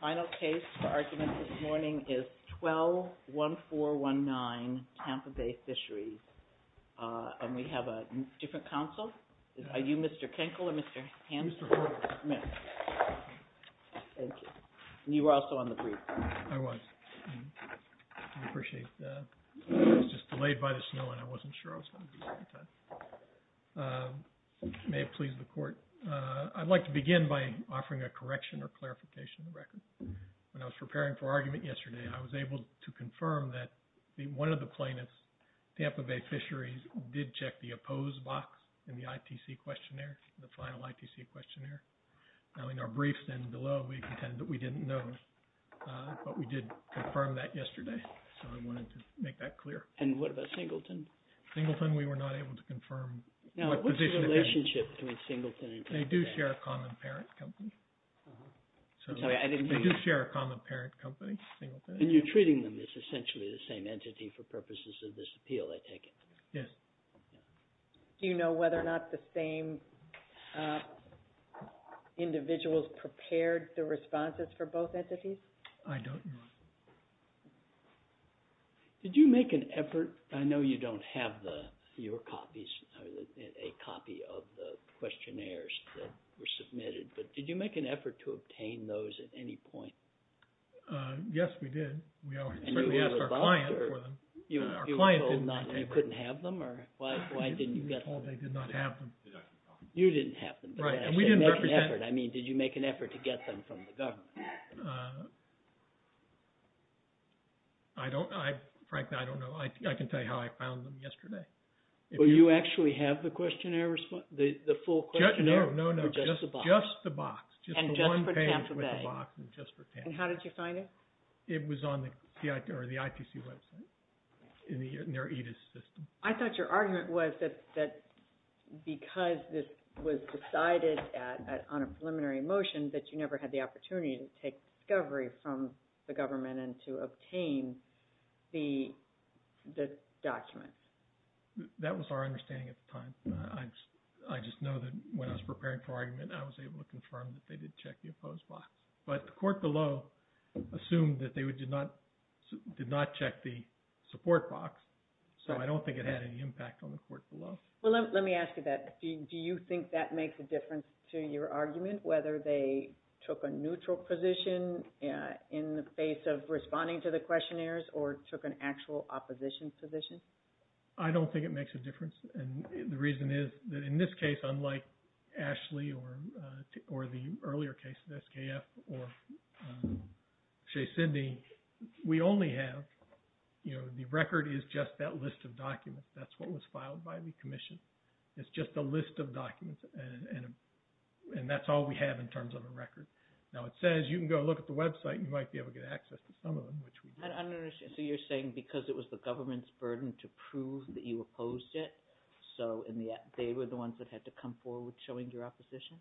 Final case for argument this morning is 12-1419 Tampa Bay Fisheries, and we have a different counsel. Are you Mr. Kinkle or Mr. Hanson? Mr. Kinkle. Mr. Hanson. Thank you. And you were also on the brief. I was. I appreciate that. I was just delayed by the snow and I wasn't sure I was going to be here on time. May it please the Court, I'd like to begin by offering a correction or clarification of the record. When I was preparing for argument yesterday, I was able to confirm that one of the plaintiffs, Tampa Bay Fisheries, did check the opposed box in the ITC questionnaire, the final ITC questionnaire. Now in our briefs and below, we contend that we didn't know, but we did confirm that yesterday, so I wanted to make that clear. And what about Singleton? Singleton, we were not able to confirm. Now, what's the relationship between Singleton and Tampa Bay? They do share a common parent company. I'm sorry, I didn't mean that. They do share a common parent company, Singleton. And you're treating them as essentially the same entity for purposes of this appeal, I take it? Yes. Do you know whether or not the same individuals prepared the responses for both entities? I don't know. Did you make an effort? I know you don't have your copies, a copy of the questionnaires that were submitted, but did you make an effort to obtain those at any point? Yes, we did. We certainly asked our client for them. Our client did not take them. You couldn't have them? Why didn't you get them? We were told they did not have them. You didn't have them. Right, and we didn't represent them. Did you make an effort? I mean, did you make an effort to get them from the government? Frankly, I don't know. I can tell you how I found them yesterday. Well, you actually have the questionnaire response, the full questionnaire, or just the box? No, no, no, just the box. And just for Tampa Bay? Just the one parent with the box and just for Tampa Bay. And how did you find it? It was on the IPC website in their EDIS system. I thought your argument was that because this was decided on a preliminary motion, that you never had the opportunity to take discovery from the government and to obtain the document. That was our understanding at the time. I just know that when I was preparing for argument, I was able to confirm that they did check the opposed box. But the court below assumed that they did not check the support box, so I don't think it had any impact on the court below. Well, let me ask you that. Do you think that makes a difference to your argument, whether they took a neutral position in the face of responding to the questionnaires or took an actual opposition position? I don't think it makes a difference. The reason is that in this case, unlike Ashley or the earlier case of SKF or Shea Sydney, we only have, you know, the record is just that list of documents. That's what was filed by the commission. It's just a list of documents, and that's all we have in terms of a record. Now, it says you can go look at the website. You might be able to get access to some of them, which we don't. So you're saying because it was the government's burden to prove that you opposed it, so they were the ones that had to come forward showing your opposition?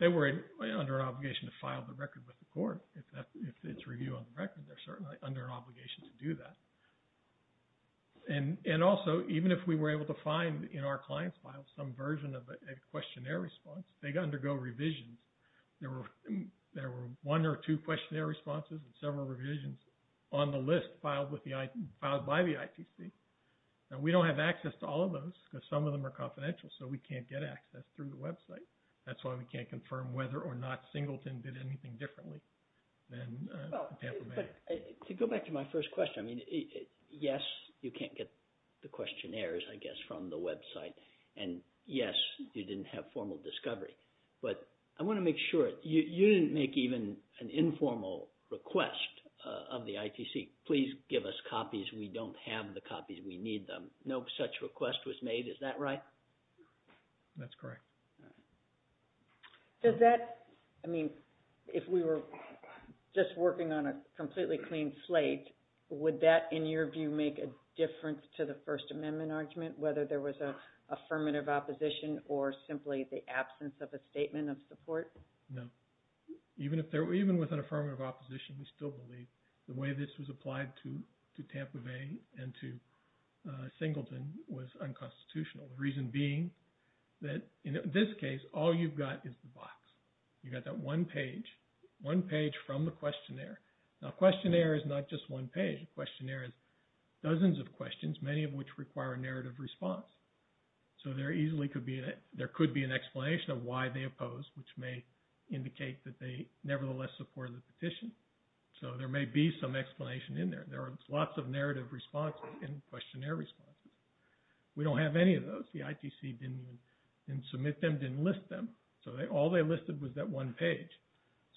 They were under an obligation to file the record with the court. If it's review on the record, they're certainly under an obligation to do that. And also, even if we were able to find in our client's files some version of a questionnaire response, they undergo revisions. There were one or two questionnaire responses and several revisions on the list filed by the ITC. Now, we don't have access to all of those because some of them are confidential, so we can't get access through the website. That's why we can't confirm whether or not Singleton did anything differently than Tampa Bay. To go back to my first question, I mean, yes, you can't get the questionnaires, I guess, from the website. And yes, you didn't have formal discovery. But I want to make sure, you didn't make even an informal request of the ITC, please give us copies, we don't have the copies, we need them. No such request was made, is that right? That's correct. Does that, I mean, if we were just working on a completely clean slate, would that, in your view, make a difference to the First Amendment argument, whether there was an affirmative opposition or simply the absence of a statement of support? No. Even with an affirmative opposition, we still believe the way this was applied to Tampa Bay and to Singleton was unconstitutional. The reason being that in this case, all you've got is the box. You've got that one page, one page from the questionnaire. Now, a questionnaire is not just one page. A questionnaire is dozens of questions, many of which require a narrative response. So there easily could be an explanation of why they oppose, which may indicate that they nevertheless support the petition. So there may be some explanation in there. There are lots of narrative responses and questionnaire responses. We don't have any of those. The ITC didn't submit them, didn't list them. So all they listed was that one page.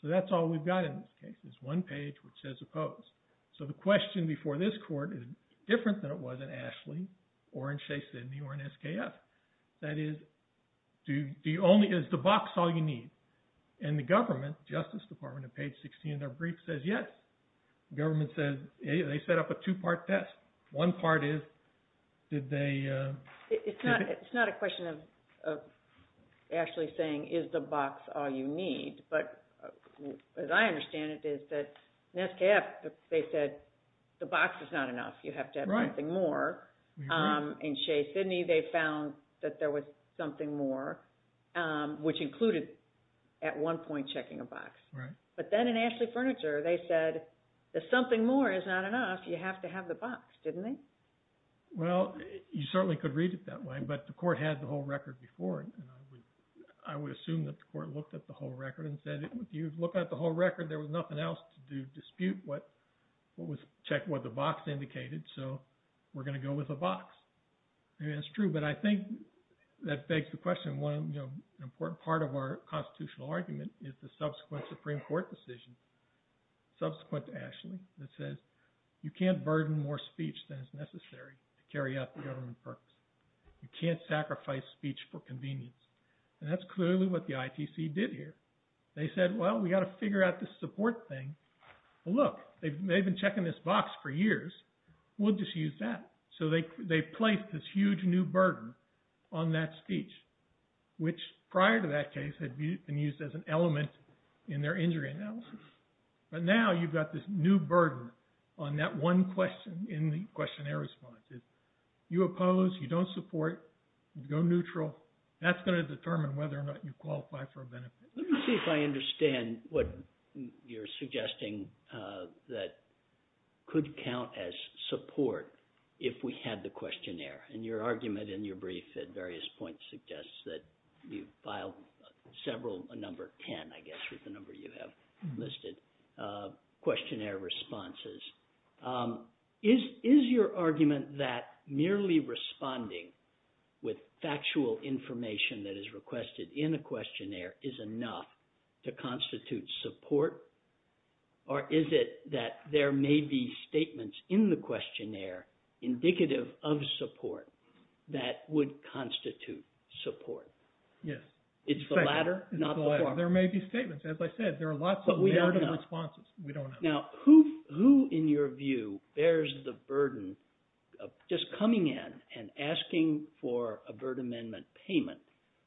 So that's all we've got in this case is one page which says oppose. So the question before this court is different than it was in Ashley or in Shea Sidney or in SKF. That is, do you only – is the box all you need? And the government, Justice Department, on page 16 of their brief says yes. The government says they set up a two-part test. One part is did they – It's not a question of Ashley saying is the box all you need, but as I understand it is that in SKF they said the box is not enough. You have to have something more. In Shea Sidney they found that there was something more, which included at one point checking a box. But then in Ashley Furniture they said the something more is not enough. You have to have the box, didn't they? Well, you certainly could read it that way, but the court had the whole record before. I would assume that the court looked at the whole record and said if you look at the whole record, there was nothing else to dispute what was checked, what the box indicated, so we're going to go with a box. That's true, but I think that begs the question. An important part of our constitutional argument is the subsequent Supreme Court decision, subsequent to Ashley that says you can't burden more speech than is necessary to carry out the government purpose. You can't sacrifice speech for convenience. And that's clearly what the ITC did here. They said, well, we've got to figure out this support thing. Well, look, they've been checking this box for years. We'll just use that. So they placed this huge new burden on that speech, which prior to that case had been used as an element in their injury analysis. But now you've got this new burden on that one question in the questionnaire responses. You oppose, you don't support, you go neutral. That's going to determine whether or not you qualify for a benefit. Let me see if I understand what you're suggesting that could count as support if we had the questionnaire. And your argument in your brief at various points suggests that you filed several, a number of 10, I guess, is the number you have listed, questionnaire responses. Is your argument that merely responding with factual information that is requested in a questionnaire is enough to constitute support? Or is it that there may be statements in the questionnaire indicative of support that would constitute support? Yes. It's the latter, not the former. There may be statements. As I said, there are lots of narrative responses. Now, who in your view bears the burden of just coming in and asking for a Burt Amendment payment?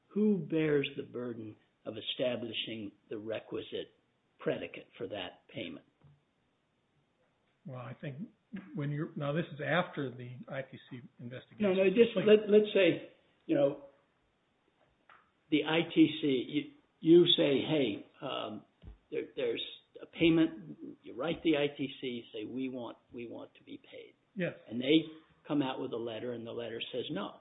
Who bears the burden of establishing the requisite predicate for that payment? Well, I think when you're – now, this is after the ITC investigation. Let's say, you know, the ITC, you say, hey, there's a payment. You write the ITC. You say, we want to be paid. And they come out with a letter, and the letter says no.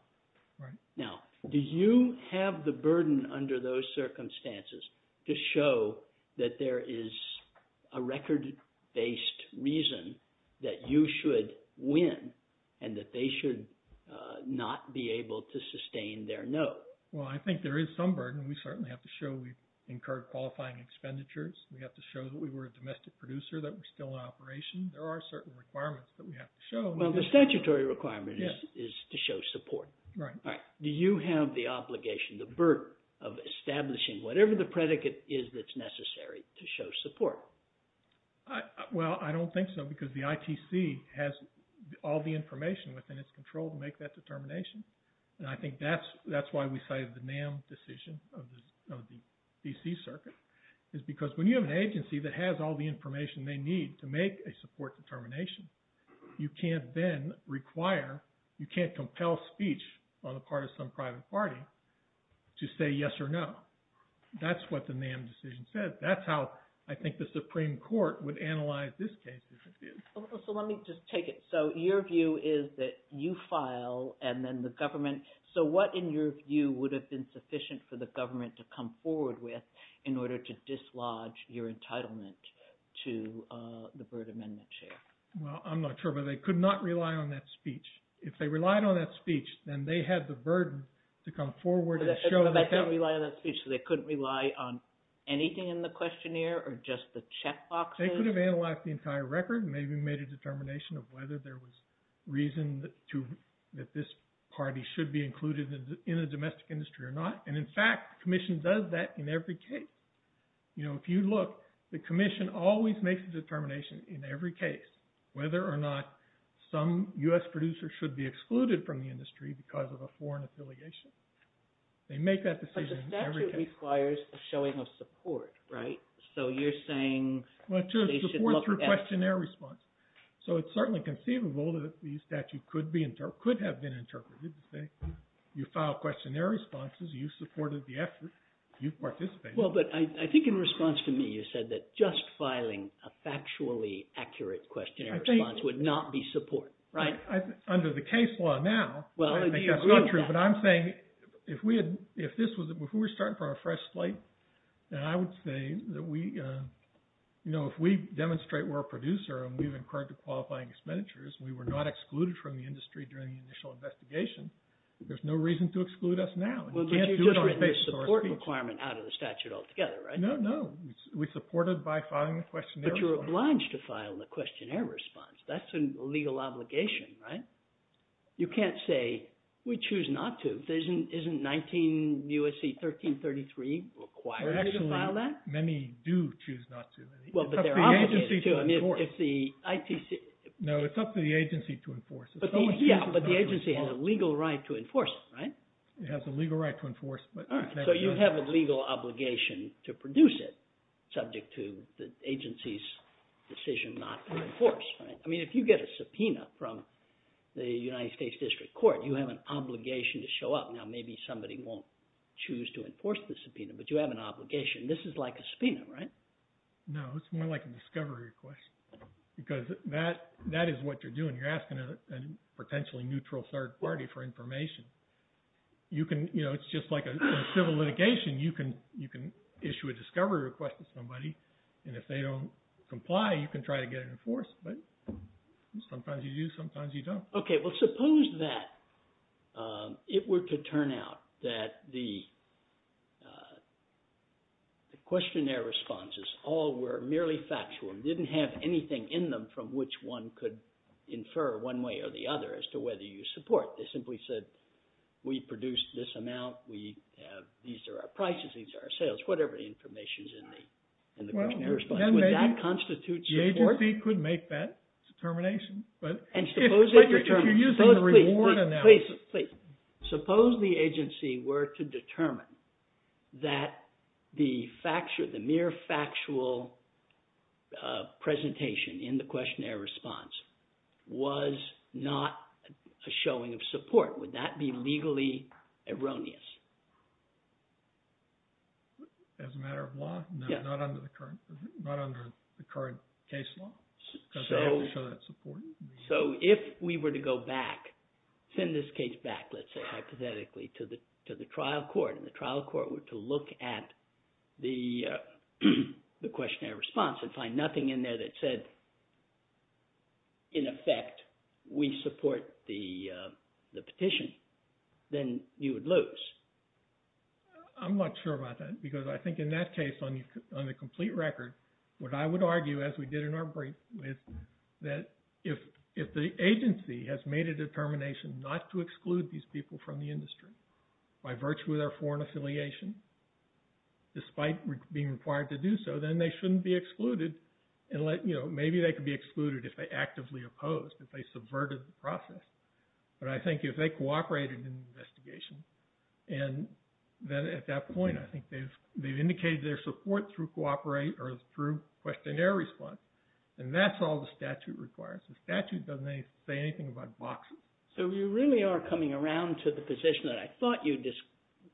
Now, do you have the burden under those circumstances to show that there is a record-based reason that you should win and that they should not be able to sustain their note? Well, I think there is some burden. We certainly have to show we've incurred qualifying expenditures. We have to show that we were a domestic producer, that we're still in operation. There are certain requirements that we have to show. Well, the statutory requirement is to show support. Right. Do you have the obligation, the burden of establishing whatever the predicate is that's necessary to show support? Well, I don't think so because the ITC has all the information within its control to make that determination. And I think that's why we cited the NAM decision of the D.C. Circuit is because when you have an agency that has all the information they need to make a support determination, you can't then require – you can't compel speech on the part of some private party to say yes or no. That's what the NAM decision says. That's how I think the Supreme Court would analyze this case, if it did. So let me just take it. So your view is that you file and then the government – so what, in your view, would have been sufficient for the government to come forward with in order to dislodge your entitlement to the Byrd Amendment? Well, I'm not sure, but they could not rely on that speech. If they relied on that speech, then they had the burden to come forward and show – But they didn't rely on that speech, so they couldn't rely on anything in the questionnaire or just the checkboxes? They could have analyzed the entire record and maybe made a determination of whether there was reason that this party should be included in the domestic industry or not. And, in fact, the commission does that in every case. If you look, the commission always makes a determination in every case whether or not some U.S. producer should be excluded from the industry because of a foreign affiliation. They make that decision in every case. But the statute requires the showing of support, right? So you're saying they should look at – Well, in terms of support through questionnaire response. So it's certainly conceivable that the statute could have been interpreted to say you filed questionnaire responses, you supported the effort, you participated. Well, but I think in response to me, you said that just filing a factually accurate questionnaire response would not be support, right? Under the case law now, that's not true. But I'm saying if we had – if this was – if we were starting from a fresh slate, then I would say that we – you know, if we demonstrate we're a producer and we've incurred the qualifying expenditures, we were not excluded from the industry during the initial investigation, there's no reason to exclude us now. Well, but you just written the support requirement out of the statute altogether, right? No, no. We supported by filing the questionnaire response. But you're obliged to file the questionnaire response. That's a legal obligation, right? You can't say we choose not to. Isn't 19 U.S.C. 1333 required to file that? Actually, many do choose not to. Well, but they're obligated to. It's up to the agency to enforce. I mean, if the ITC – No, it's up to the agency to enforce. But the agency has a legal right to enforce it, right? It has a legal right to enforce, but – So you have a legal obligation to produce it subject to the agency's decision not to enforce, right? I mean, if you get a subpoena from the United States District Court, you have an obligation to show up. Now, maybe somebody won't choose to enforce the subpoena, but you have an obligation. This is like a subpoena, right? No, it's more like a discovery request because that is what you're doing. You're asking a potentially neutral third party for information. You can – it's just like a civil litigation. You can issue a discovery request to somebody, and if they don't comply, you can try to get it enforced. But sometimes you do, sometimes you don't. Okay, well, suppose that it were to turn out that the questionnaire responses all were merely factual and didn't have anything in them from which one could infer one way or the other as to whether you support. They simply said, we produced this amount. We have – these are our prices, these are our sales, whatever the information is in the questionnaire response. Would that constitute support? The agency could make that determination. But if you're using the reward analysis – in the questionnaire response was not a showing of support, would that be legally erroneous? As a matter of law? Yeah. Not under the current case law? So if we were to go back, send this case back, let's say, hypothetically to the trial court, and the trial court were to look at the questionnaire response and find nothing in there that said, in effect, we support the petition, then you would lose. I'm not sure about that because I think in that case, on the complete record, what I would argue, as we did in our brief, is that if the agency has made a determination not to exclude these people from the industry by virtue of their foreign affiliation, despite being required to do so, then they shouldn't be excluded. Maybe they could be excluded if they actively opposed, if they subverted the process. But I think if they cooperated in the investigation, and then at that point, I think they've indicated their support through questionnaire response, then that's all the statute requires. The statute doesn't say anything about boxes. So you really are coming around to the position that I thought you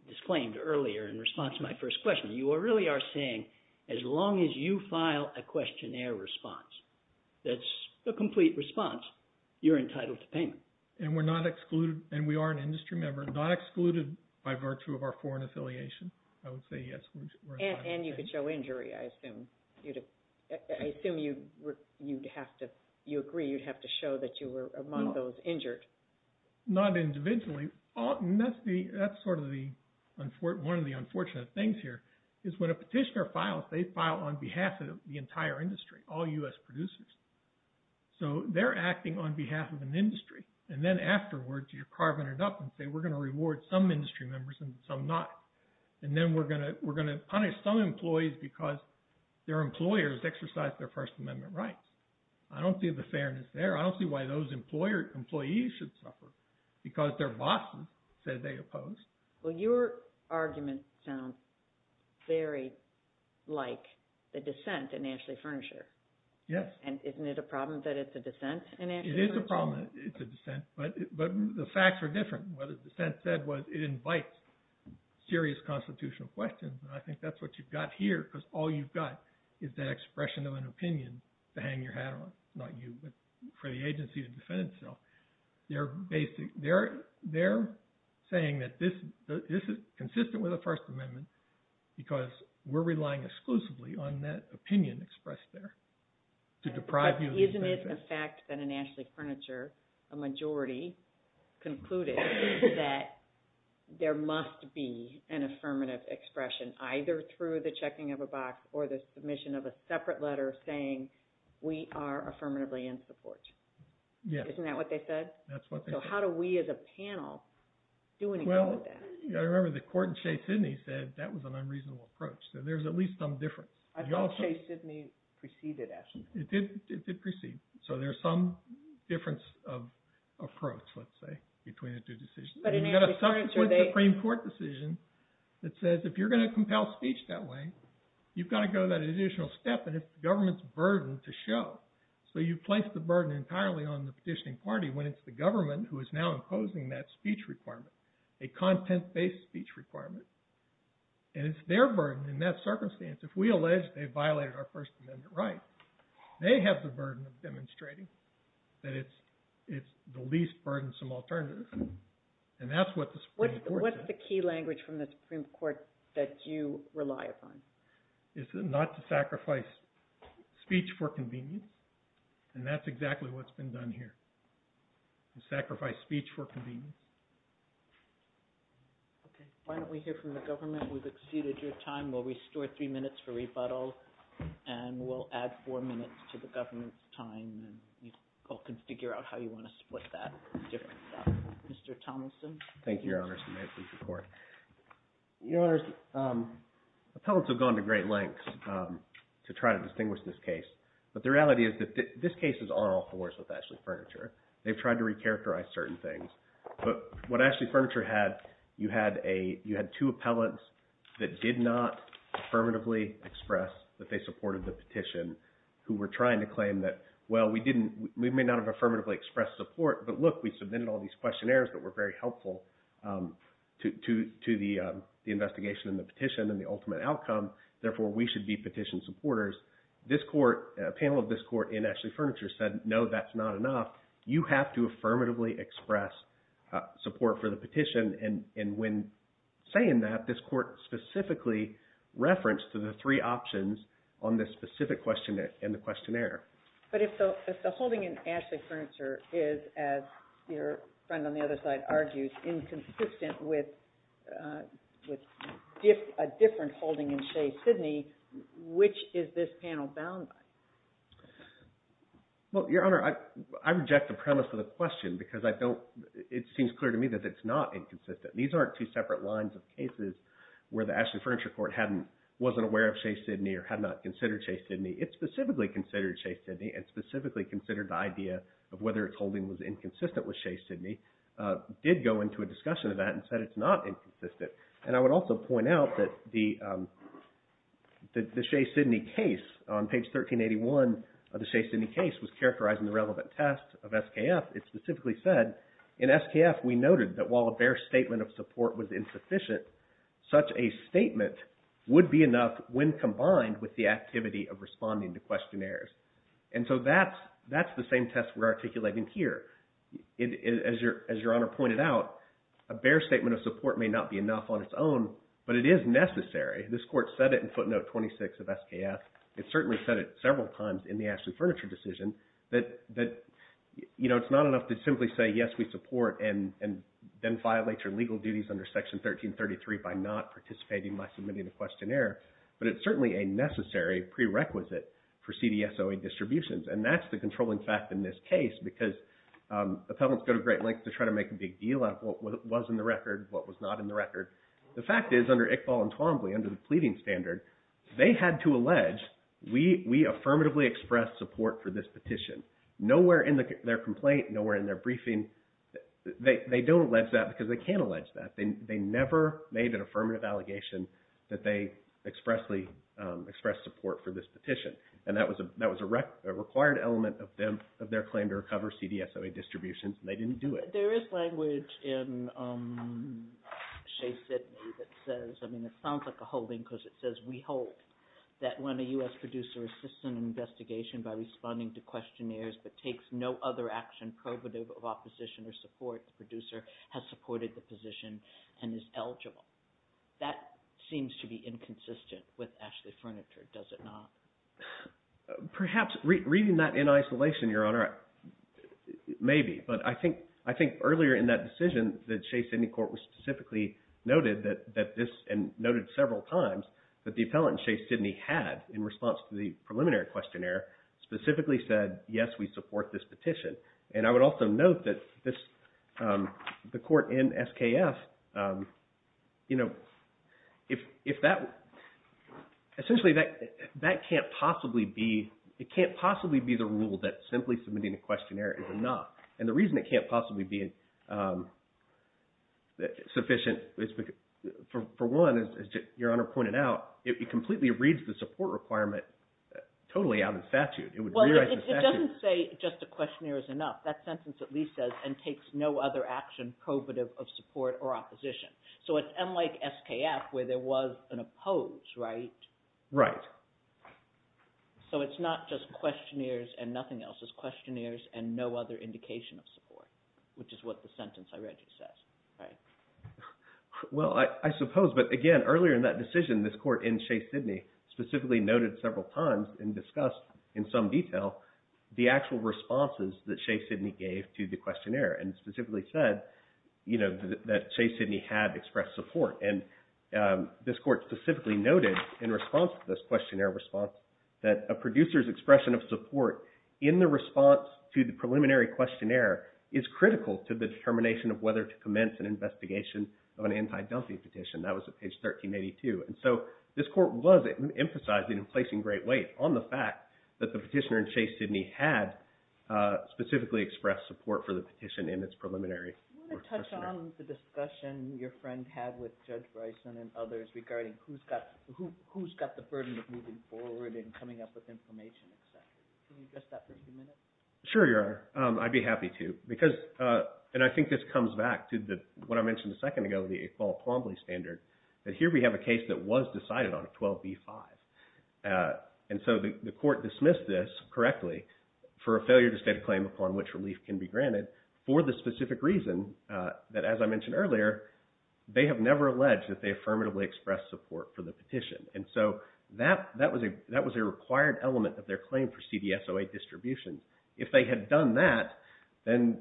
disclaimed earlier in response to my first question. You really are saying, as long as you file a questionnaire response that's a complete response, you're entitled to payment. And we're not excluded, and we are an industry member, not excluded by virtue of our foreign affiliation. I would say yes, we're entitled to payment. And you could show injury, I assume. I assume you agree you'd have to show that you were among those injured. Not individually. That's sort of one of the unfortunate things here, is when a petitioner files, they file on behalf of the entire industry, all U.S. producers. So they're acting on behalf of an industry. And then afterwards, you're carving it up and say, we're going to reward some industry members and some not. And then we're going to punish some employees because their employers exercised their First Amendment rights. I don't see the fairness there. I don't see why those employees should suffer because their bosses said they opposed. Well, your argument sounds very like the dissent in Ashley Furniture. Yes. And isn't it a problem that it's a dissent in Ashley Furniture? It is a problem that it's a dissent. But the facts are different. What the dissent said was it invites serious constitutional questions. And I think that's what you've got here because all you've got is that expression of an opinion to hang your hat on. Not you, but for the agency to defend itself. They're saying that this is consistent with the First Amendment because we're relying exclusively on that opinion expressed there to deprive you of the benefit. Isn't it a fact that in Ashley Furniture a majority concluded that there must be an affirmative expression either through the checking of a box or the submission of a separate letter saying we are affirmatively in support? Yes. Isn't that what they said? That's what they said. So how do we as a panel do anything with that? Well, I remember the court in Shea-Sydney said that was an unreasonable approach. So there's at least some difference. I thought Shea-Sydney preceded Ashley Furniture. It did precede. So there's some difference of approach, let's say, between the two decisions. And you've got a subsequent Supreme Court decision that says if you're going to compel speech that way, you've got to go that additional step. And it's the government's burden to show. So you place the burden entirely on the petitioning party when it's the government who is now imposing that speech requirement, a content-based speech requirement. And it's their burden in that circumstance. If we allege they violated our First Amendment right, they have the burden of demonstrating that it's the least burdensome alternative. And that's what the Supreme Court does. What's the key language from the Supreme Court that you rely upon? It's not to sacrifice speech for convenience. And that's exactly what's been done here, to sacrifice speech for convenience. Okay. Why don't we hear from the government? We've exceeded your time. We'll restore three minutes for rebuttal, and we'll add four minutes to the government's time, and you all can figure out how you want to split that. Mr. Tomilson. Thank you, Your Honor. May I please report? Your Honor, appellants have gone to great lengths to try to distinguish this case. But the reality is that this case is on all fours with Ashley Furniture. They've tried to recharacterize certain things. But what Ashley Furniture had, you had two appellants that did not affirmatively express that they supported the petition who were trying to claim that, well, we may not have affirmatively expressed support, but look, we submitted all these questionnaires that were very helpful to the investigation and the petition and the ultimate outcome. Therefore, we should be petition supporters. This court, a panel of this court in Ashley Furniture said, no, that's not enough. You have to affirmatively express support for the petition. And when saying that, this court specifically referenced to the three options on this specific questionnaire. But if the holding in Ashley Furniture is, as your friend on the other side argues, inconsistent with a different holding in Shea, Sydney, which is this panel bound by? Well, Your Honor, I reject the premise of the question because I don't – it seems clear to me that it's not inconsistent. These aren't two separate lines of cases where the Ashley Furniture Court hadn't – wasn't aware of Shea, Sydney or had not considered Shea, Sydney. It specifically considered Shea, Sydney and specifically considered the idea of whether its holding was inconsistent with Shea, Sydney, did go into a discussion of that and said it's not inconsistent. And I would also point out that the Shea, Sydney case on page 1381 of the Shea, Sydney case was characterizing the relevant test of SKF. It specifically said, in SKF, we noted that while a bare statement of support was insufficient, such a statement would be enough when combined with the activity of responding to questionnaires. And so that's the same test we're articulating here. As Your Honor pointed out, a bare statement of support may not be enough on its own, but it is necessary. This Court said it in footnote 26 of SKF. It certainly said it several times in the Ashley Furniture decision that it's not enough to simply say yes, we support and then violate your legal duties under section 1333 by not participating by submitting a questionnaire. But it's certainly a necessary prerequisite for CDSOA distributions. And that's the controlling fact in this case because appellants go to great lengths to try to make a big deal out of what was in the record, what was not in the record. The fact is under Iqbal and Twombly, under the pleading standard, they had to allege we affirmatively expressed support for this petition. Nowhere in their complaint, nowhere in their briefing, they don't allege that because they can't allege that. They never made an affirmative allegation that they expressly expressed support for this petition. And that was a required element of their claim to recover CDSOA distributions, and they didn't do it. There is language in Shea Sidney that says – I mean it sounds like a holding because it says we hold that when a U.S. producer assists in an investigation by responding to questionnaires but takes no other action prohibitive of opposition or support, the producer has supported the position and is eligible. That seems to be inconsistent with Ashley Furniture, does it not? Perhaps reading that in isolation, Your Honor, maybe. But I think earlier in that decision that Shea Sidney Court specifically noted that this – and noted several times that the appellant Shea Sidney had in response to the preliminary questionnaire specifically said, yes, we support this petition. And I would also note that this – the court in SKF, if that – essentially that can't possibly be – it can't possibly be the rule that simply submitting a questionnaire is enough. And the reason it can't possibly be sufficient is because for one, as Your Honor pointed out, it completely reads the support requirement totally out of statute. Well, it doesn't say just a questionnaire is enough. That sentence at least says, and takes no other action prohibitive of support or opposition. So it's unlike SKF where there was an oppose, right? Right. So it's not just questionnaires and nothing else. It's questionnaires and no other indication of support, which is what the sentence I read just says, right? Well, I suppose. But again, earlier in that decision, this court in Shea Sidney specifically noted several times and discussed in some detail the actual responses that Shea Sidney gave to the questionnaire and specifically said that Shea Sidney had expressed support. And this court specifically noted in response to this questionnaire response that a producer's expression of support in the response to the preliminary questionnaire is critical to the determination of whether to commence an investigation of an anti-Dunphy petition. That was at page 1382. And so this court was emphasizing and placing great weight on the fact that the petitioner in Shea Sidney had specifically expressed support for the petition in its preliminary. Do you want to touch on the discussion your friend had with Judge Bryson and others regarding who's got the burden of moving forward and coming up with information, et cetera? Can you address that for a few minutes? Sure, Your Honor. I'd be happy to. Because – and I think this comes back to what I mentioned a second ago, the Iqbal-Pombley standard, that here we have a case that was decided on a 12b-5. And so the court dismissed this correctly for a failure to state a claim upon which relief can be granted for the specific reason that, as I mentioned earlier, they have never alleged that they affirmatively expressed support for the petition. And so that was a required element of their claim for CDSOA distribution. If they had done that, then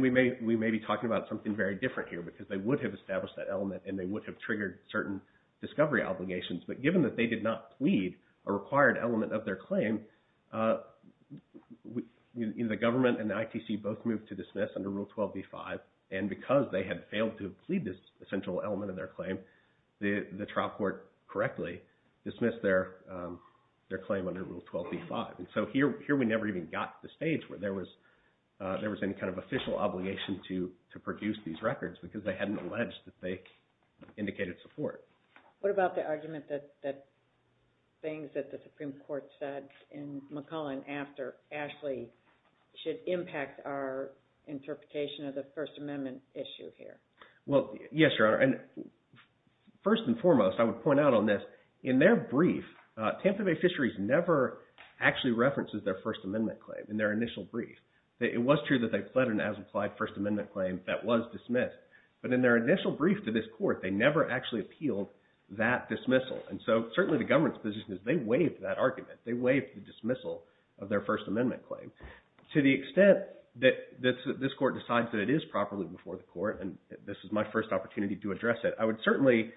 we may be talking about something very different here because they would have established that element and they would have triggered certain discovery obligations. But given that they did not plead a required element of their claim, the government and the ITC both moved to dismiss under Rule 12b-5. And because they had failed to plead this essential element of their claim, the trial court correctly dismissed their claim under Rule 12b-5. And so here we never even got to the stage where there was any kind of official obligation to produce these records because they hadn't alleged that they indicated support. What about the argument that things that the Supreme Court said in McClellan after Ashley should impact our interpretation of the First Amendment issue here? Well, yes, Your Honor. And first and foremost, I would point out on this, in their brief, Tampa Bay Fisheries never actually references their First Amendment claim in their initial brief. It was true that they pled an as-implied First Amendment claim that was dismissed. But in their initial brief to this court, they never actually appealed that dismissal. And so certainly the government's position is they waived that argument. They waived the dismissal of their First Amendment claim. To the extent that this court decides that it is properly before the court, and this is my first opportunity to address it, I would certainly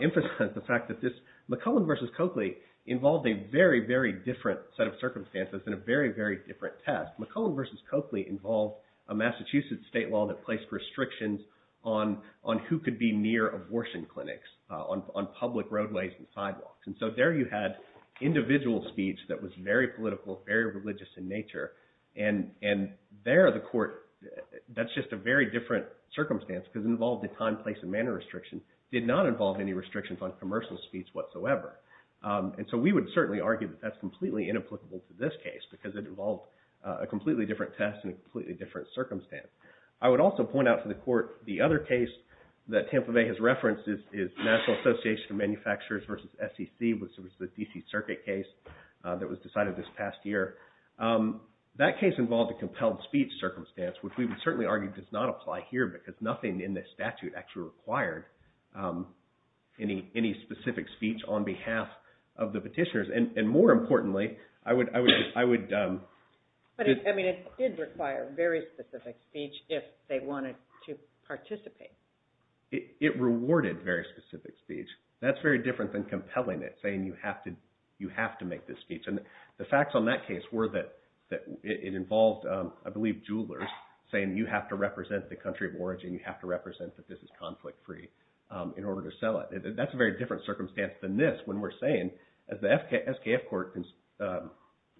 emphasize the fact that this McClellan v. Coakley involved a very, very different set of circumstances and a very, very different test. McClellan v. Coakley involved a Massachusetts state law that placed restrictions on who could be near abortion clinics on public roadways and sidewalks. And so there you had individual speech that was very political, very religious in nature. And there the court – that's just a very different circumstance because it involved a time, place, and manner restriction. It did not involve any restrictions on commercial speech whatsoever. And so we would certainly argue that that's completely inapplicable to this case because it involved a completely different test and a completely different circumstance. I would also point out to the court the other case that Tampa Bay has referenced is National Association of Manufacturers v. SEC, which was the D.C. Circuit case that was decided this past year. That case involved a compelled speech circumstance, which we would certainly argue does not apply here because nothing in this statute actually required any specific speech on behalf of the petitioners. And more importantly, I would – But I mean it did require very specific speech if they wanted to participate. It rewarded very specific speech. That's very different than compelling it, saying you have to make this speech. And the facts on that case were that it involved, I believe, jewelers saying you have to represent the country of origin, you have to represent that this is conflict-free in order to sell it. That's a very different circumstance than this when we're saying, as the SKF court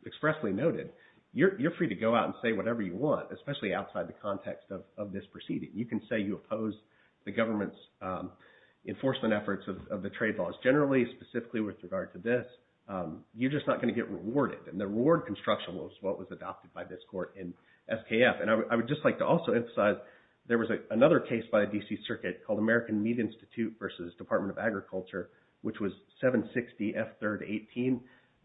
expressly noted, you're free to go out and say whatever you want, especially outside the context of this proceeding. You can say you oppose the government's enforcement efforts of the trade laws generally, specifically with regard to this. You're just not going to get rewarded, and the reward construction was what was adopted by this court in SKF. And I would just like to also emphasize there was another case by a D.C. circuit called American Meat Institute versus Department of Agriculture, which was 760F3-18.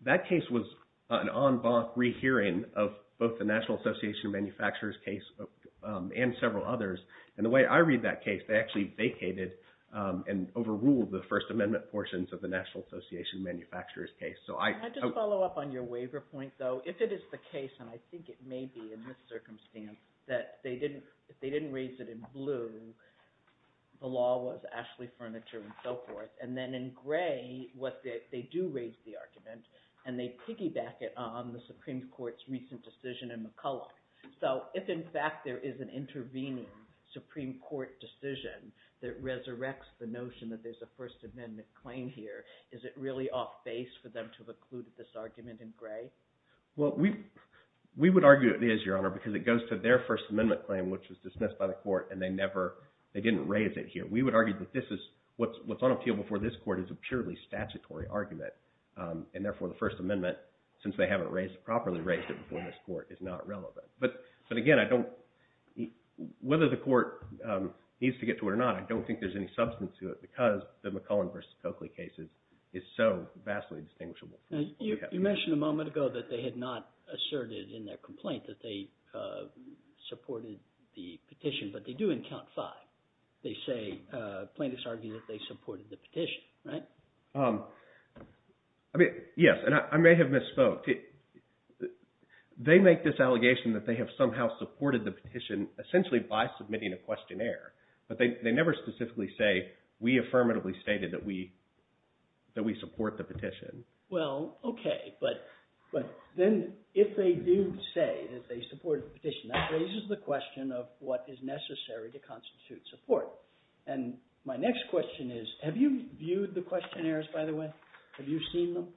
That case was an en banc rehearing of both the National Association of Manufacturers case and several others. And the way I read that case, they actually vacated and overruled the First Amendment portions of the National Association of Manufacturers case. Can I just follow up on your waiver point, though? If it is the case, and I think it may be in this circumstance, that they didn't raise it in blue, the law was Ashley Furniture and so forth. And then in gray, they do raise the argument, and they piggyback it on the Supreme Court's recent decision in McCulloch. So if, in fact, there is an intervening Supreme Court decision that resurrects the notion that there's a First Amendment claim here, is it really off base for them to have included this argument in gray? Well, we would argue it is, Your Honor, because it goes to their First Amendment claim, which was dismissed by the court, and they never – they didn't raise it here. We would argue that this is – what's on appeal before this court is a purely statutory argument. And therefore, the First Amendment, since they haven't raised – properly raised it before this court, is not relevant. But again, I don't – whether the court needs to get to it or not, I don't think there's any substance to it because the McCulloch versus Coakley case is so vastly distinguishable. You mentioned a moment ago that they had not asserted in their complaint that they supported the petition, but they do in count five. They say – plaintiffs argue that they supported the petition, right? I mean, yes, and I may have misspoke. They make this allegation that they have somehow supported the petition essentially by submitting a questionnaire. But they never specifically say we affirmatively stated that we support the petition. Well, okay, but then if they do say that they support the petition, that raises the question of what is necessary to constitute support. And my next question is have you viewed the questionnaires, by the way? Have you seen them?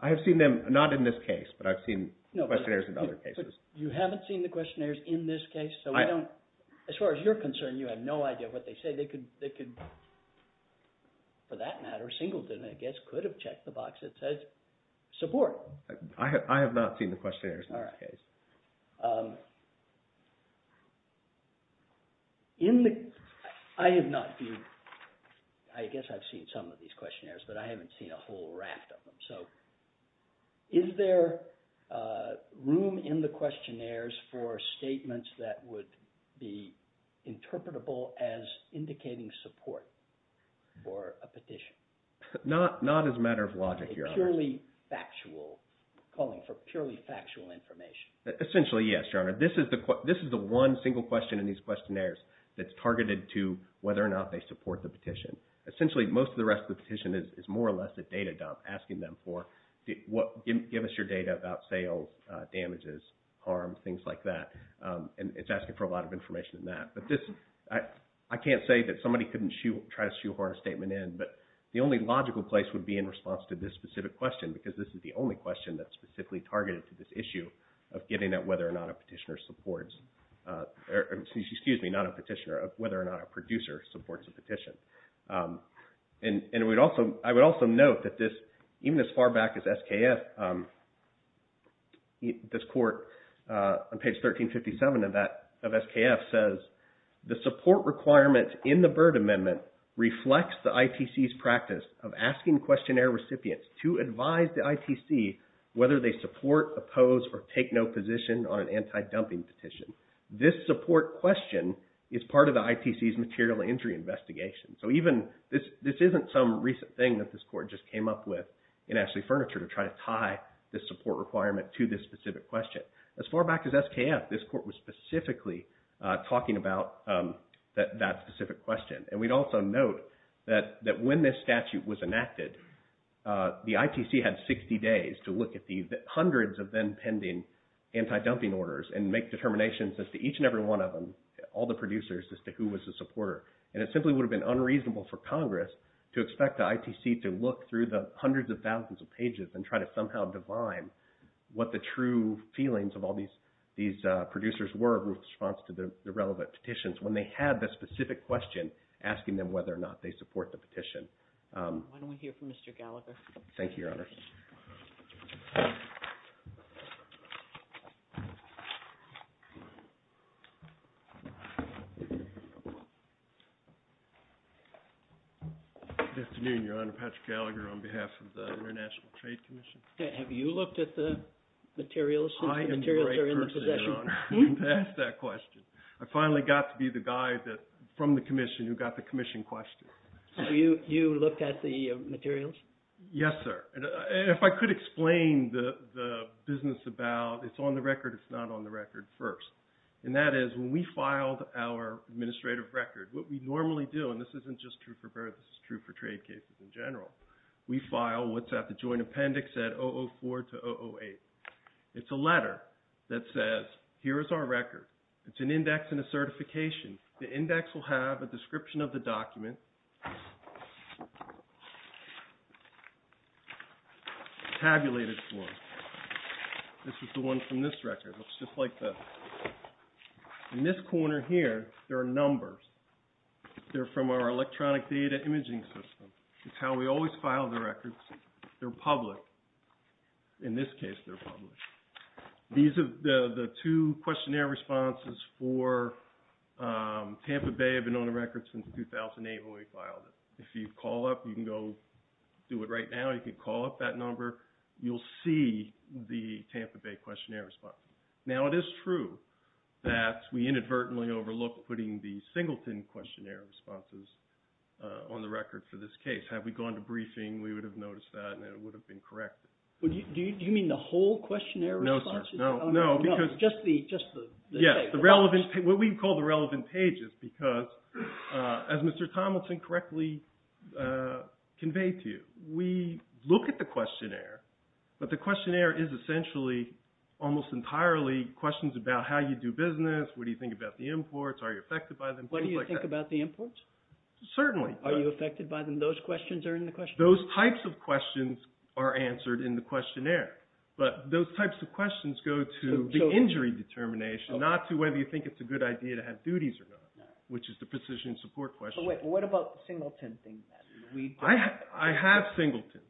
I have seen them, not in this case, but I've seen questionnaires in other cases. You haven't seen the questionnaires in this case? So we don't – as far as you're concerned, you have no idea what they say. They could – for that matter, Singleton, I guess, could have checked the box that says support. I have not seen the questionnaires in this case. All right. In the – I have not viewed – I guess I've seen some of these questionnaires, but I haven't seen a whole raft of them. So is there room in the questionnaires for statements that would be interpretable as indicating support for a petition? Not as a matter of logic, Your Honor. A purely factual – calling for purely factual information. Essentially, yes, Your Honor. This is the one single question in these questionnaires that's targeted to whether or not they support the petition. Essentially, most of the rest of the petition is more or less a data dump, asking them for – give us your data about sales, damages, harm, things like that. And it's asking for a lot of information in that. But this – I can't say that somebody couldn't try to shoehorn a statement in, but the only logical place would be in response to this specific question, because this is the only question that's specifically targeted to this issue of getting at whether or not a petitioner supports – excuse me, not a petitioner, whether or not a producer supports a petition. And we'd also – I would also note that this – even as far back as SKF, this court on page 1357 of that – of SKF says, the support requirement in the Byrd Amendment reflects the ITC's practice of asking questionnaire recipients to advise the ITC whether they support, oppose, or take no position on an anti-dumping petition. This support question is part of the ITC's material injury investigation. So even – this isn't some recent thing that this court just came up with in Ashley Furniture to try to tie this support requirement to this specific question. As far back as SKF, this court was specifically talking about that specific question. And we'd also note that when this statute was enacted, the ITC had 60 days to look at the hundreds of then-pending anti-dumping orders and make determinations as to each and every one of them, all the producers, as to who was the supporter. And it simply would have been unreasonable for Congress to expect the ITC to look through the hundreds of thousands of pages and try to somehow divine what the true feelings of all these producers were in response to the relevant petitions. When they had the specific question asking them whether or not they support the petition. Why don't we hear from Mr. Gallagher? Thank you, Your Honor. Good afternoon, Your Honor. Patrick Gallagher on behalf of the International Trade Commission. Have you looked at the materials? I am the right person, Your Honor, to ask that question. I finally got to be the guy from the Commission who got the Commission question. So you looked at the materials? Yes, sir. And if I could explain the business about it's on the record, it's not on the record first. And that is when we filed our administrative record, what we normally do, and this isn't just true for birth, this is true for trade cases in general, we file what's at the joint appendix at 004 to 008. It's a letter that says here is our record. It's an index and a certification. The index will have a description of the document tabulated for us. This is the one from this record. It looks just like this. In this corner here, there are numbers. They're from our electronic data imaging system. It's how we always file the records. They're public. In this case, they're public. The two questionnaire responses for Tampa Bay have been on the record since 2008 when we filed it. If you call up, you can go do it right now. You can call up that number. You'll see the Tampa Bay questionnaire response. Now, it is true that we inadvertently overlooked putting the Singleton questionnaire responses on the record for this case. Had we gone to briefing, we would have noticed that and it would have been corrected. Do you mean the whole questionnaire responses? No, sir. No, no, because – Just the – Yes, the relevant – what we call the relevant pages because, as Mr. Tomlinson correctly conveyed to you, we look at the questionnaire, but the questionnaire is essentially almost entirely questions about how you do business, what do you think about the imports, are you affected by them, things like that. What do you think about the imports? Certainly. Are you affected by them? Those questions are in the questionnaire? Those types of questions are answered in the questionnaire, but those types of questions go to the injury determination, not to whether you think it's a good idea to have duties or not, which is the precision support question. Wait, what about the Singleton thing then? I have Singleton.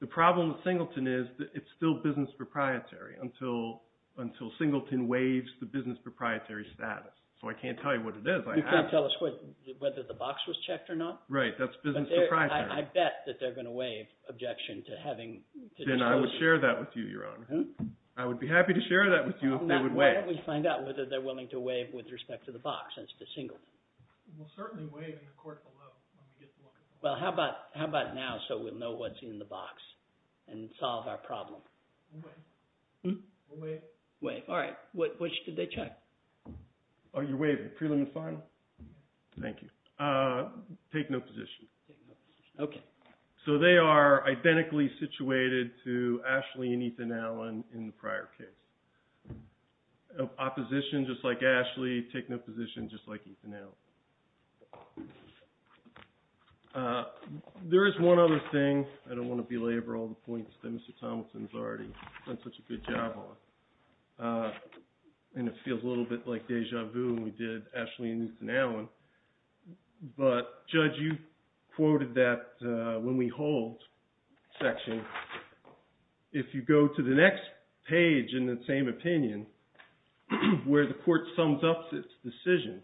The problem with Singleton is that it's still business proprietary until Singleton waives the business proprietary status. So I can't tell you what it is. You can't tell us whether the box was checked or not? Right. That's business proprietary. I bet that they're going to waive objection to having – Then I would share that with you, Your Honor. I would be happy to share that with you if they would waive. Why don't we find out whether they're willing to waive with respect to the box as to Singleton? We'll certainly waive in the court below. Well, how about now so we'll know what's in the box and solve our problem? We'll waive. We'll waive. Waive. All right. Which did they check? Oh, you're waiving. Preliminary and final? Thank you. Take no position. Okay. So they are identically situated to Ashley and Ethan Allen in the prior case. Opposition, just like Ashley. Take no position, just like Ethan Allen. There is one other thing. I don't want to belabor all the points that Mr. Tomlinson has already done such a good job on. And it feels a little bit like deja vu when we did Ashley and Ethan Allen. But, Judge, you quoted that when we hold section, if you go to the next page in the same opinion where the court sums up its decision,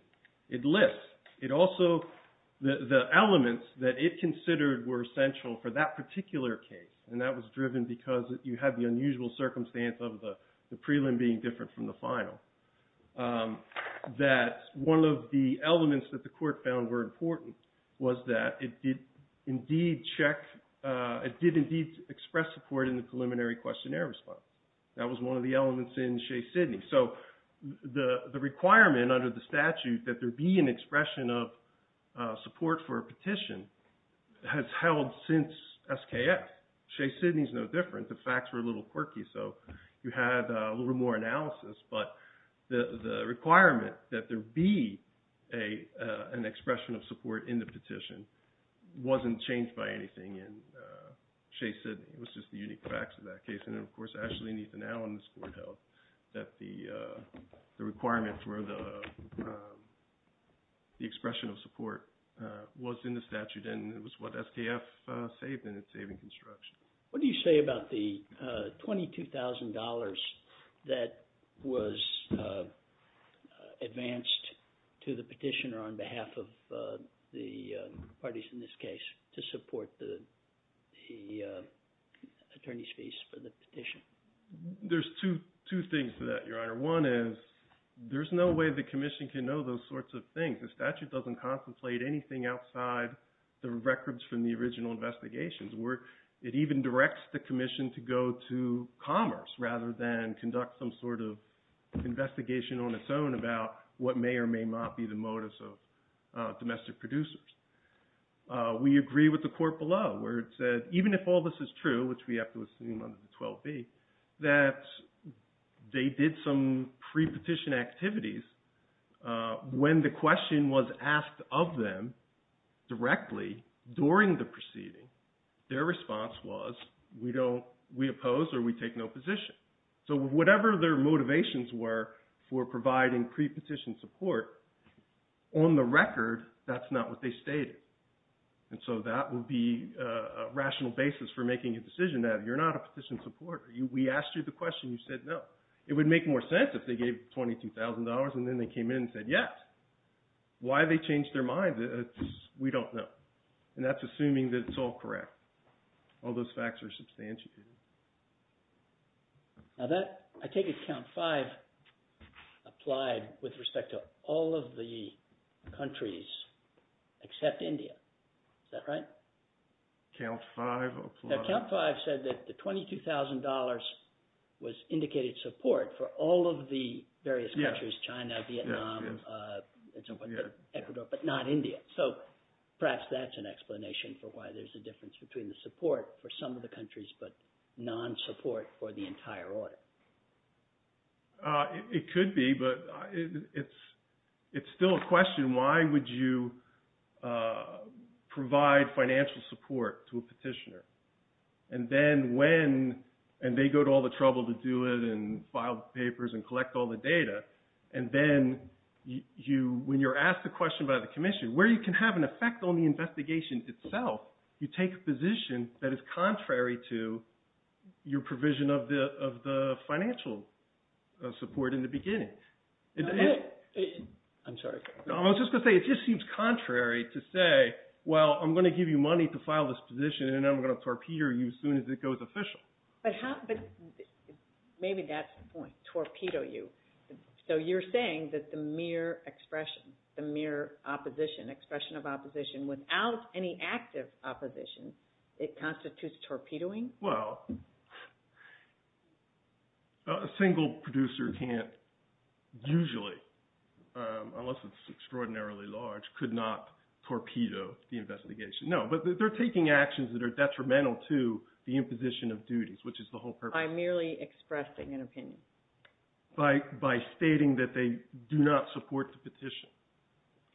it lists. It also, the elements that it considered were essential for that particular case. And that was driven because you had the unusual circumstance of the prelim being different from the final. That one of the elements that the court found were important was that it did indeed check, it did indeed express support in the preliminary questionnaire response. That was one of the elements in Shea-Sydney. So the requirement under the statute that there be an expression of support for a petition has held since SKF. Shea-Sydney is no different. The facts were a little quirky, so you had a little more analysis. But the requirement that there be an expression of support in the petition wasn't changed by anything in Shea-Sydney. It was just the unique facts of that case. And, of course, Ashley and Ethan Allen's court held that the requirement for the expression of support was in the statute. And it was what SKF saved in its saving construction. What do you say about the $22,000 that was advanced to the petitioner on behalf of the parties in this case to support the attorney's fees for the petition? There's two things to that, Your Honor. One is there's no way the commission can know those sorts of things. The statute doesn't contemplate anything outside the records from the original investigations. It even directs the commission to go to Commerce rather than conduct some sort of investigation on its own about what may or may not be the motives of domestic producers. We agree with the court below where it said, even if all this is true, which we have to assume under the 12B, that they did some pre-petition activities. When the question was asked of them directly during the proceeding, their response was, we oppose or we take no position. So whatever their motivations were for providing pre-petition support, on the record, that's not what they stated. And so that would be a rational basis for making a decision that you're not a petition supporter. We asked you the question, you said no. It would make more sense if they gave $22,000 and then they came in and said yes. Why they changed their mind, we don't know. And that's assuming that it's all correct. All those facts are substantiated. Now that, I take it Count 5 applied with respect to all of the countries except India. Is that right? Count 5 applied. Now Count 5 said that the $22,000 was indicated support for all of the various countries, China, Vietnam, Ecuador, but not India. So perhaps that's an explanation for why there's a difference between the support for some of the countries but non-support for the entire order. It could be, but it's still a question. Why would you provide financial support to a petitioner? And then when, and they go to all the trouble to do it and file papers and collect all the data. And then when you're asked a question by the commission, where you can have an effect on the investigation itself, you take a position that is contrary to your provision of the financial support in the beginning. I'm sorry. I was just going to say it just seems contrary to say, well, I'm going to give you money to file this position and I'm going to torpedo you as soon as it goes official. But maybe that's the point, torpedo you. So you're saying that the mere expression, the mere opposition, expression of opposition without any active opposition, it constitutes torpedoing? Well, a single producer can't usually, unless it's extraordinarily large, could not torpedo the investigation. No, but they're taking actions that are detrimental to the imposition of duties, which is the whole purpose. By merely expressing an opinion? By stating that they do not support the petition,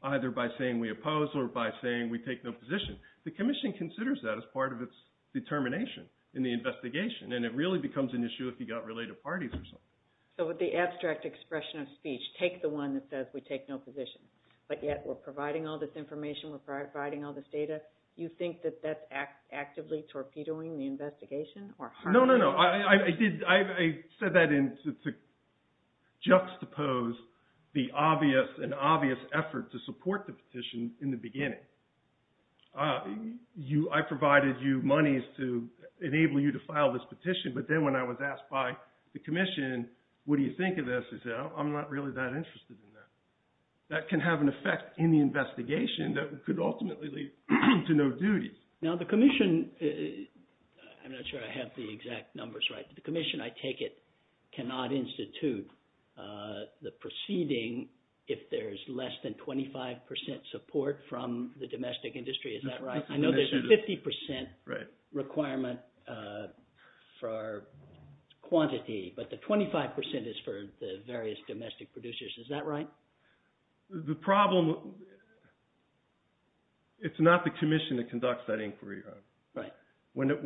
either by saying we oppose or by saying we take no position. The commission considers that as part of its determination in the investigation, and it really becomes an issue if you've got related parties or something. So with the abstract expression of speech, take the one that says we take no position, but yet we're providing all this information, we're providing all this data. You think that that's actively torpedoing the investigation? No, no, no. I said that to juxtapose the obvious and obvious effort to support the petition in the beginning. I provided you monies to enable you to file this petition, but then when I was asked by the commission, what do you think of this? They said, oh, I'm not really that interested in that. That can have an effect in the investigation that could ultimately lead to no duties. Now the commission – I'm not sure I have the exact numbers right. The commission, I take it, cannot institute the proceeding if there's less than 25 percent support from the domestic industry. Is that right? I know there's a 50 percent requirement for quantity, but the 25 percent is for the various domestic producers. Is that right? The problem – it's not the commission that conducts that inquiry. A petition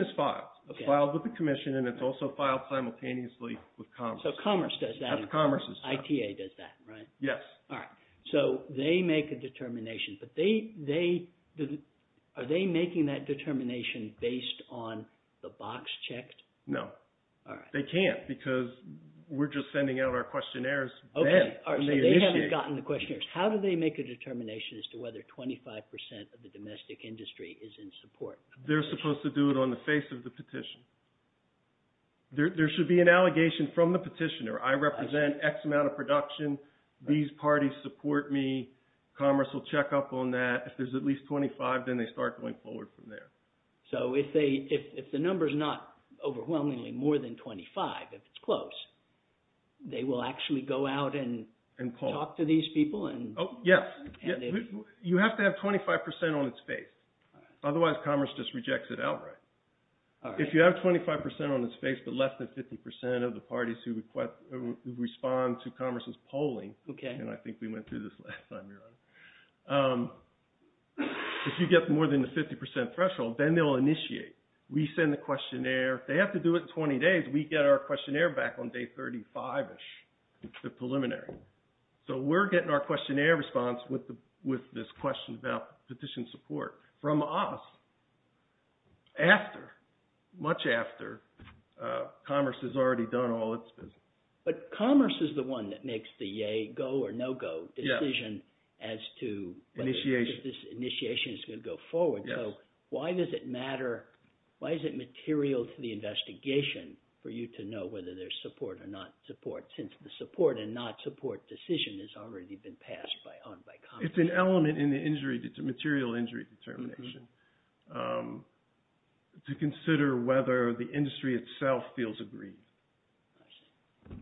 is filed. It's filed with the commission, and it's also filed simultaneously with Commerce. Commerce does that? Commerce does that. ITA does that, right? Yes. All right. They make a determination, but are they making that determination based on the box checked? No. All right. They can't because we're just sending out our questionnaires then. Okay. So they haven't gotten the questionnaires. How do they make a determination as to whether 25 percent of the domestic industry is in support? They're supposed to do it on the face of the petition. There should be an allegation from the petitioner. I represent X amount of production. These parties support me. Commerce will check up on that. If there's at least 25, then they start going forward from there. So if the number is not overwhelmingly more than 25, if it's close, they will actually go out and talk to these people? Yes. You have to have 25 percent on its face. Otherwise, Commerce just rejects it outright. If you have 25 percent on its face but less than 50 percent of the parties who respond to Commerce's polling – and I think we went through this last time, Your Honor. If you get more than the 50 percent threshold, then they'll initiate. We send the questionnaire. They have to do it in 20 days. We get our questionnaire back on day 35-ish, the preliminary. So we're getting our questionnaire response with this question about petition support from us after, much after Commerce has already done all its business. But Commerce is the one that makes the yay-go or no-go decision as to whether this initiation is going to go forward. So why does it matter? Why is it material to the investigation for you to know whether there's support or not support since the support and not support decision has already been passed on by Commerce? It's an element in the material injury determination to consider whether the industry itself feels aggrieved. I see.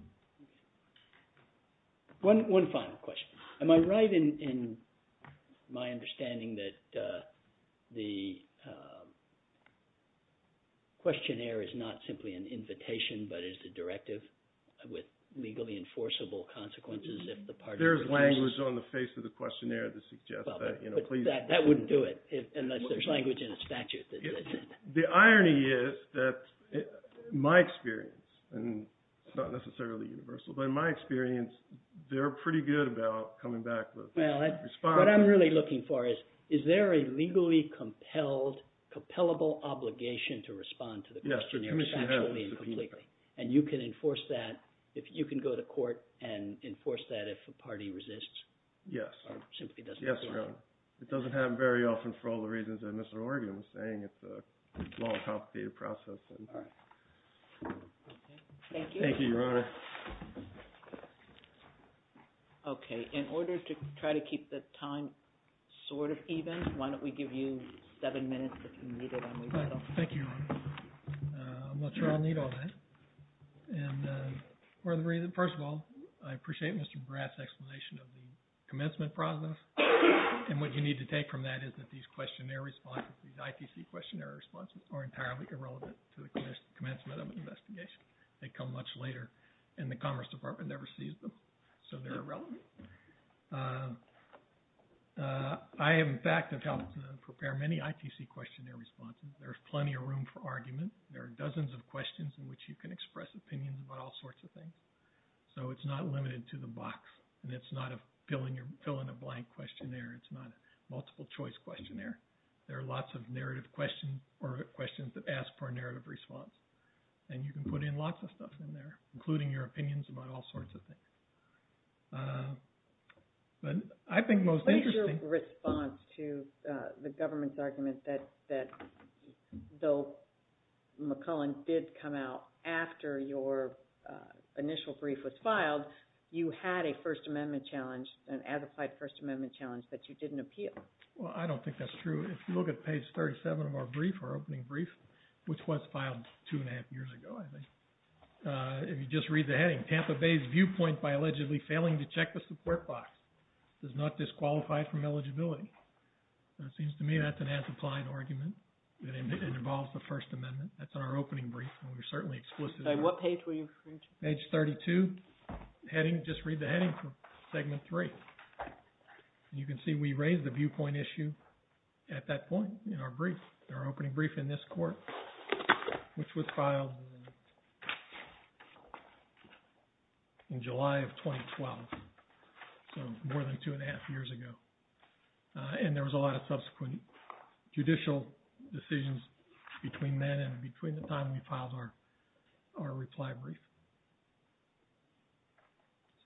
One final question. Am I right in my understanding that the questionnaire is not simply an invitation but is a directive with legally enforceable consequences if the parties refuse? There is language on the face of the questionnaire that suggests that. But that wouldn't do it unless there's language in the statute that says that. The irony is that, in my experience, and it's not necessarily universal, but in my experience, they're pretty good about coming back with a response. What I'm really looking for is, is there a legally compelled, compellable obligation to respond to the questionnaire factually and completely? And you can enforce that if you can go to court and enforce that if a party resists? Yes. Or simply doesn't want to? It doesn't happen very often for all the reasons that Mr. Oregon was saying. It's a long, complicated process. All right. Thank you. Thank you, Your Honor. Okay. In order to try to keep the time sort of even, why don't we give you seven minutes if you need it. Thank you, Your Honor. I'm not sure I'll need all that. First of all, I appreciate Mr. Bratt's explanation of the commencement process. And what you need to take from that is that these questionnaire responses, these ITC questionnaire responses, are entirely irrelevant to the commencement of an investigation. They come much later, and the Commerce Department never sees them, so they're irrelevant. I, in fact, have helped to prepare many ITC questionnaire responses. There's plenty of room for argument. There are dozens of questions in which you can express opinions about all sorts of things. So it's not limited to the box, and it's not a fill-in-a-blank questionnaire. It's not a multiple-choice questionnaire. There are lots of narrative questions or questions that ask for a narrative response, and you can put in lots of stuff in there, including your opinions about all sorts of things. What is your response to the government's argument that, though McCullen did come out after your initial brief was filed, you had a First Amendment challenge, an as-applied First Amendment challenge, that you didn't appeal? Well, I don't think that's true. If you look at page 37 of our brief, our opening brief, which was filed two and a half years ago, I think, if you just read the heading, the Tampa Bay's viewpoint by allegedly failing to check the support box does not disqualify from eligibility. So it seems to me that's an as-applied argument, that it involves the First Amendment. That's in our opening brief, and we're certainly explicit on that. What page were you referring to? Page 32, heading, just read the heading for Segment 3. You can see we raised the viewpoint issue at that point in our brief, our opening brief in this court, which was filed in July of 2012, so more than two and a half years ago. And there was a lot of subsequent judicial decisions between then and between the time we filed our reply brief.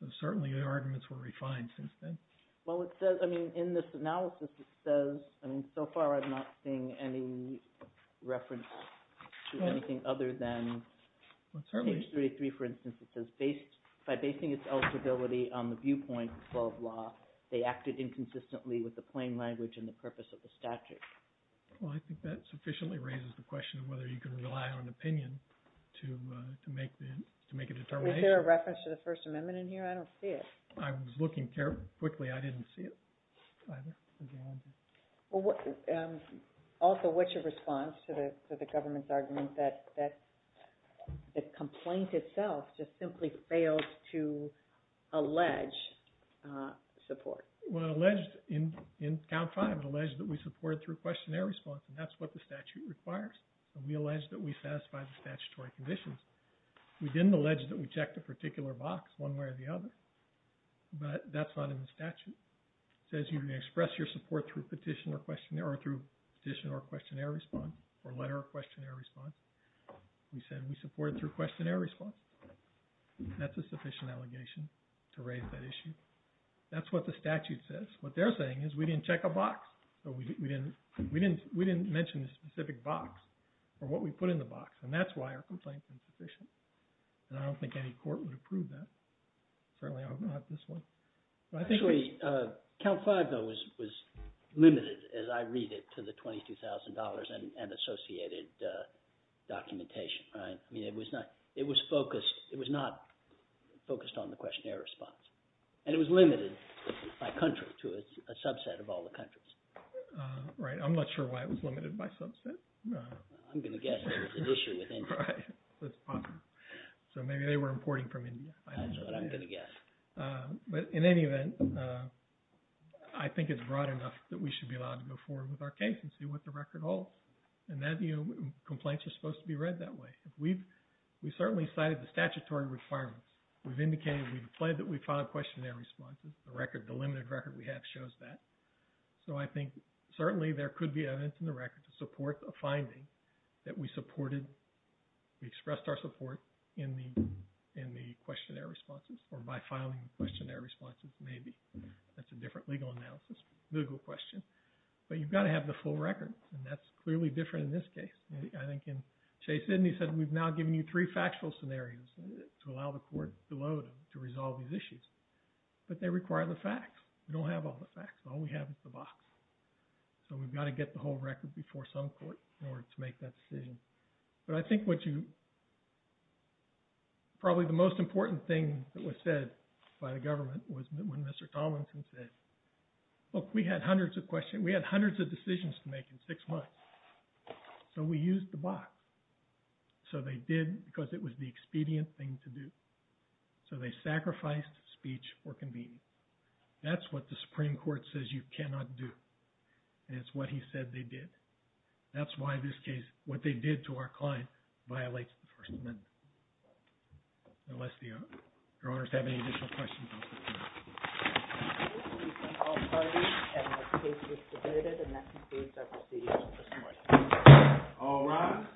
So certainly the arguments were refined since then. Well, it says – I mean, in this analysis it says – I mean, so far I'm not seeing any reference to anything other than – Well, certainly – Page 33, for instance, it says, based – by basing its eligibility on the viewpoint, blah, blah, they acted inconsistently with the plain language and the purpose of the statute. Well, I think that sufficiently raises the question of whether you can rely on an opinion to make a determination. Was there a reference to the First Amendment in here? I don't see it. I was looking carefully. Quickly, I didn't see it either. Also, what's your response to the government's argument that the complaint itself just simply fails to allege support? Well, it alleged – in Count 5, it alleged that we supported through questionnaire response, and that's what the statute requires. We allege that we satisfy the statutory conditions. We didn't allege that we checked a particular box one way or the other, but that's not in the statute. It says you can express your support through petition or questionnaire – or through petition or questionnaire response or letter of questionnaire response. We said we supported through questionnaire response. That's a sufficient allegation to raise that issue. That's what the statute says. What they're saying is we didn't check a box. We didn't mention a specific box or what we put in the box, and that's why our complaint is insufficient. And I don't think any court would approve that. Certainly, I hope not this one. Actually, Count 5, though, was limited, as I read it, to the $22,000 and associated documentation. I mean it was focused – it was not focused on the questionnaire response. And it was limited by country to a subset of all the countries. Right. I'm not sure why it was limited by subset. I'm going to guess there was an issue with India. Right. That's possible. So maybe they were importing from India. That's what I'm going to guess. But in any event, I think it's broad enough that we should be allowed to go forward with our case and see what the record holds. In that view, complaints are supposed to be read that way. We've certainly cited the statutory requirements. We've indicated we've filed questionnaire responses. The limited record we have shows that. So I think certainly there could be evidence in the record to support a finding that we supported. We expressed our support in the questionnaire responses or by filing the questionnaire responses maybe. That's a different legal question. But you've got to have the full record, and that's clearly different in this case. I think Chase Sidney said we've now given you three factual scenarios to allow the court to load and to resolve these issues. But they require the facts. We don't have all the facts. All we have is the box. So we've got to get the whole record before some court in order to make that decision. But I think what you – probably the most important thing that was said by the government was when Mr. Tomlinson said, look, we had hundreds of questions. We had hundreds of decisions to make in six months. So we used the box. So they did because it was the expedient thing to do. So they sacrificed speech for convenience. That's what the Supreme Court says you cannot do. And it's what he said they did. That's why this case, what they did to our client, violates the First Amendment. Unless Your Honors have any additional questions. Thank you. All rise.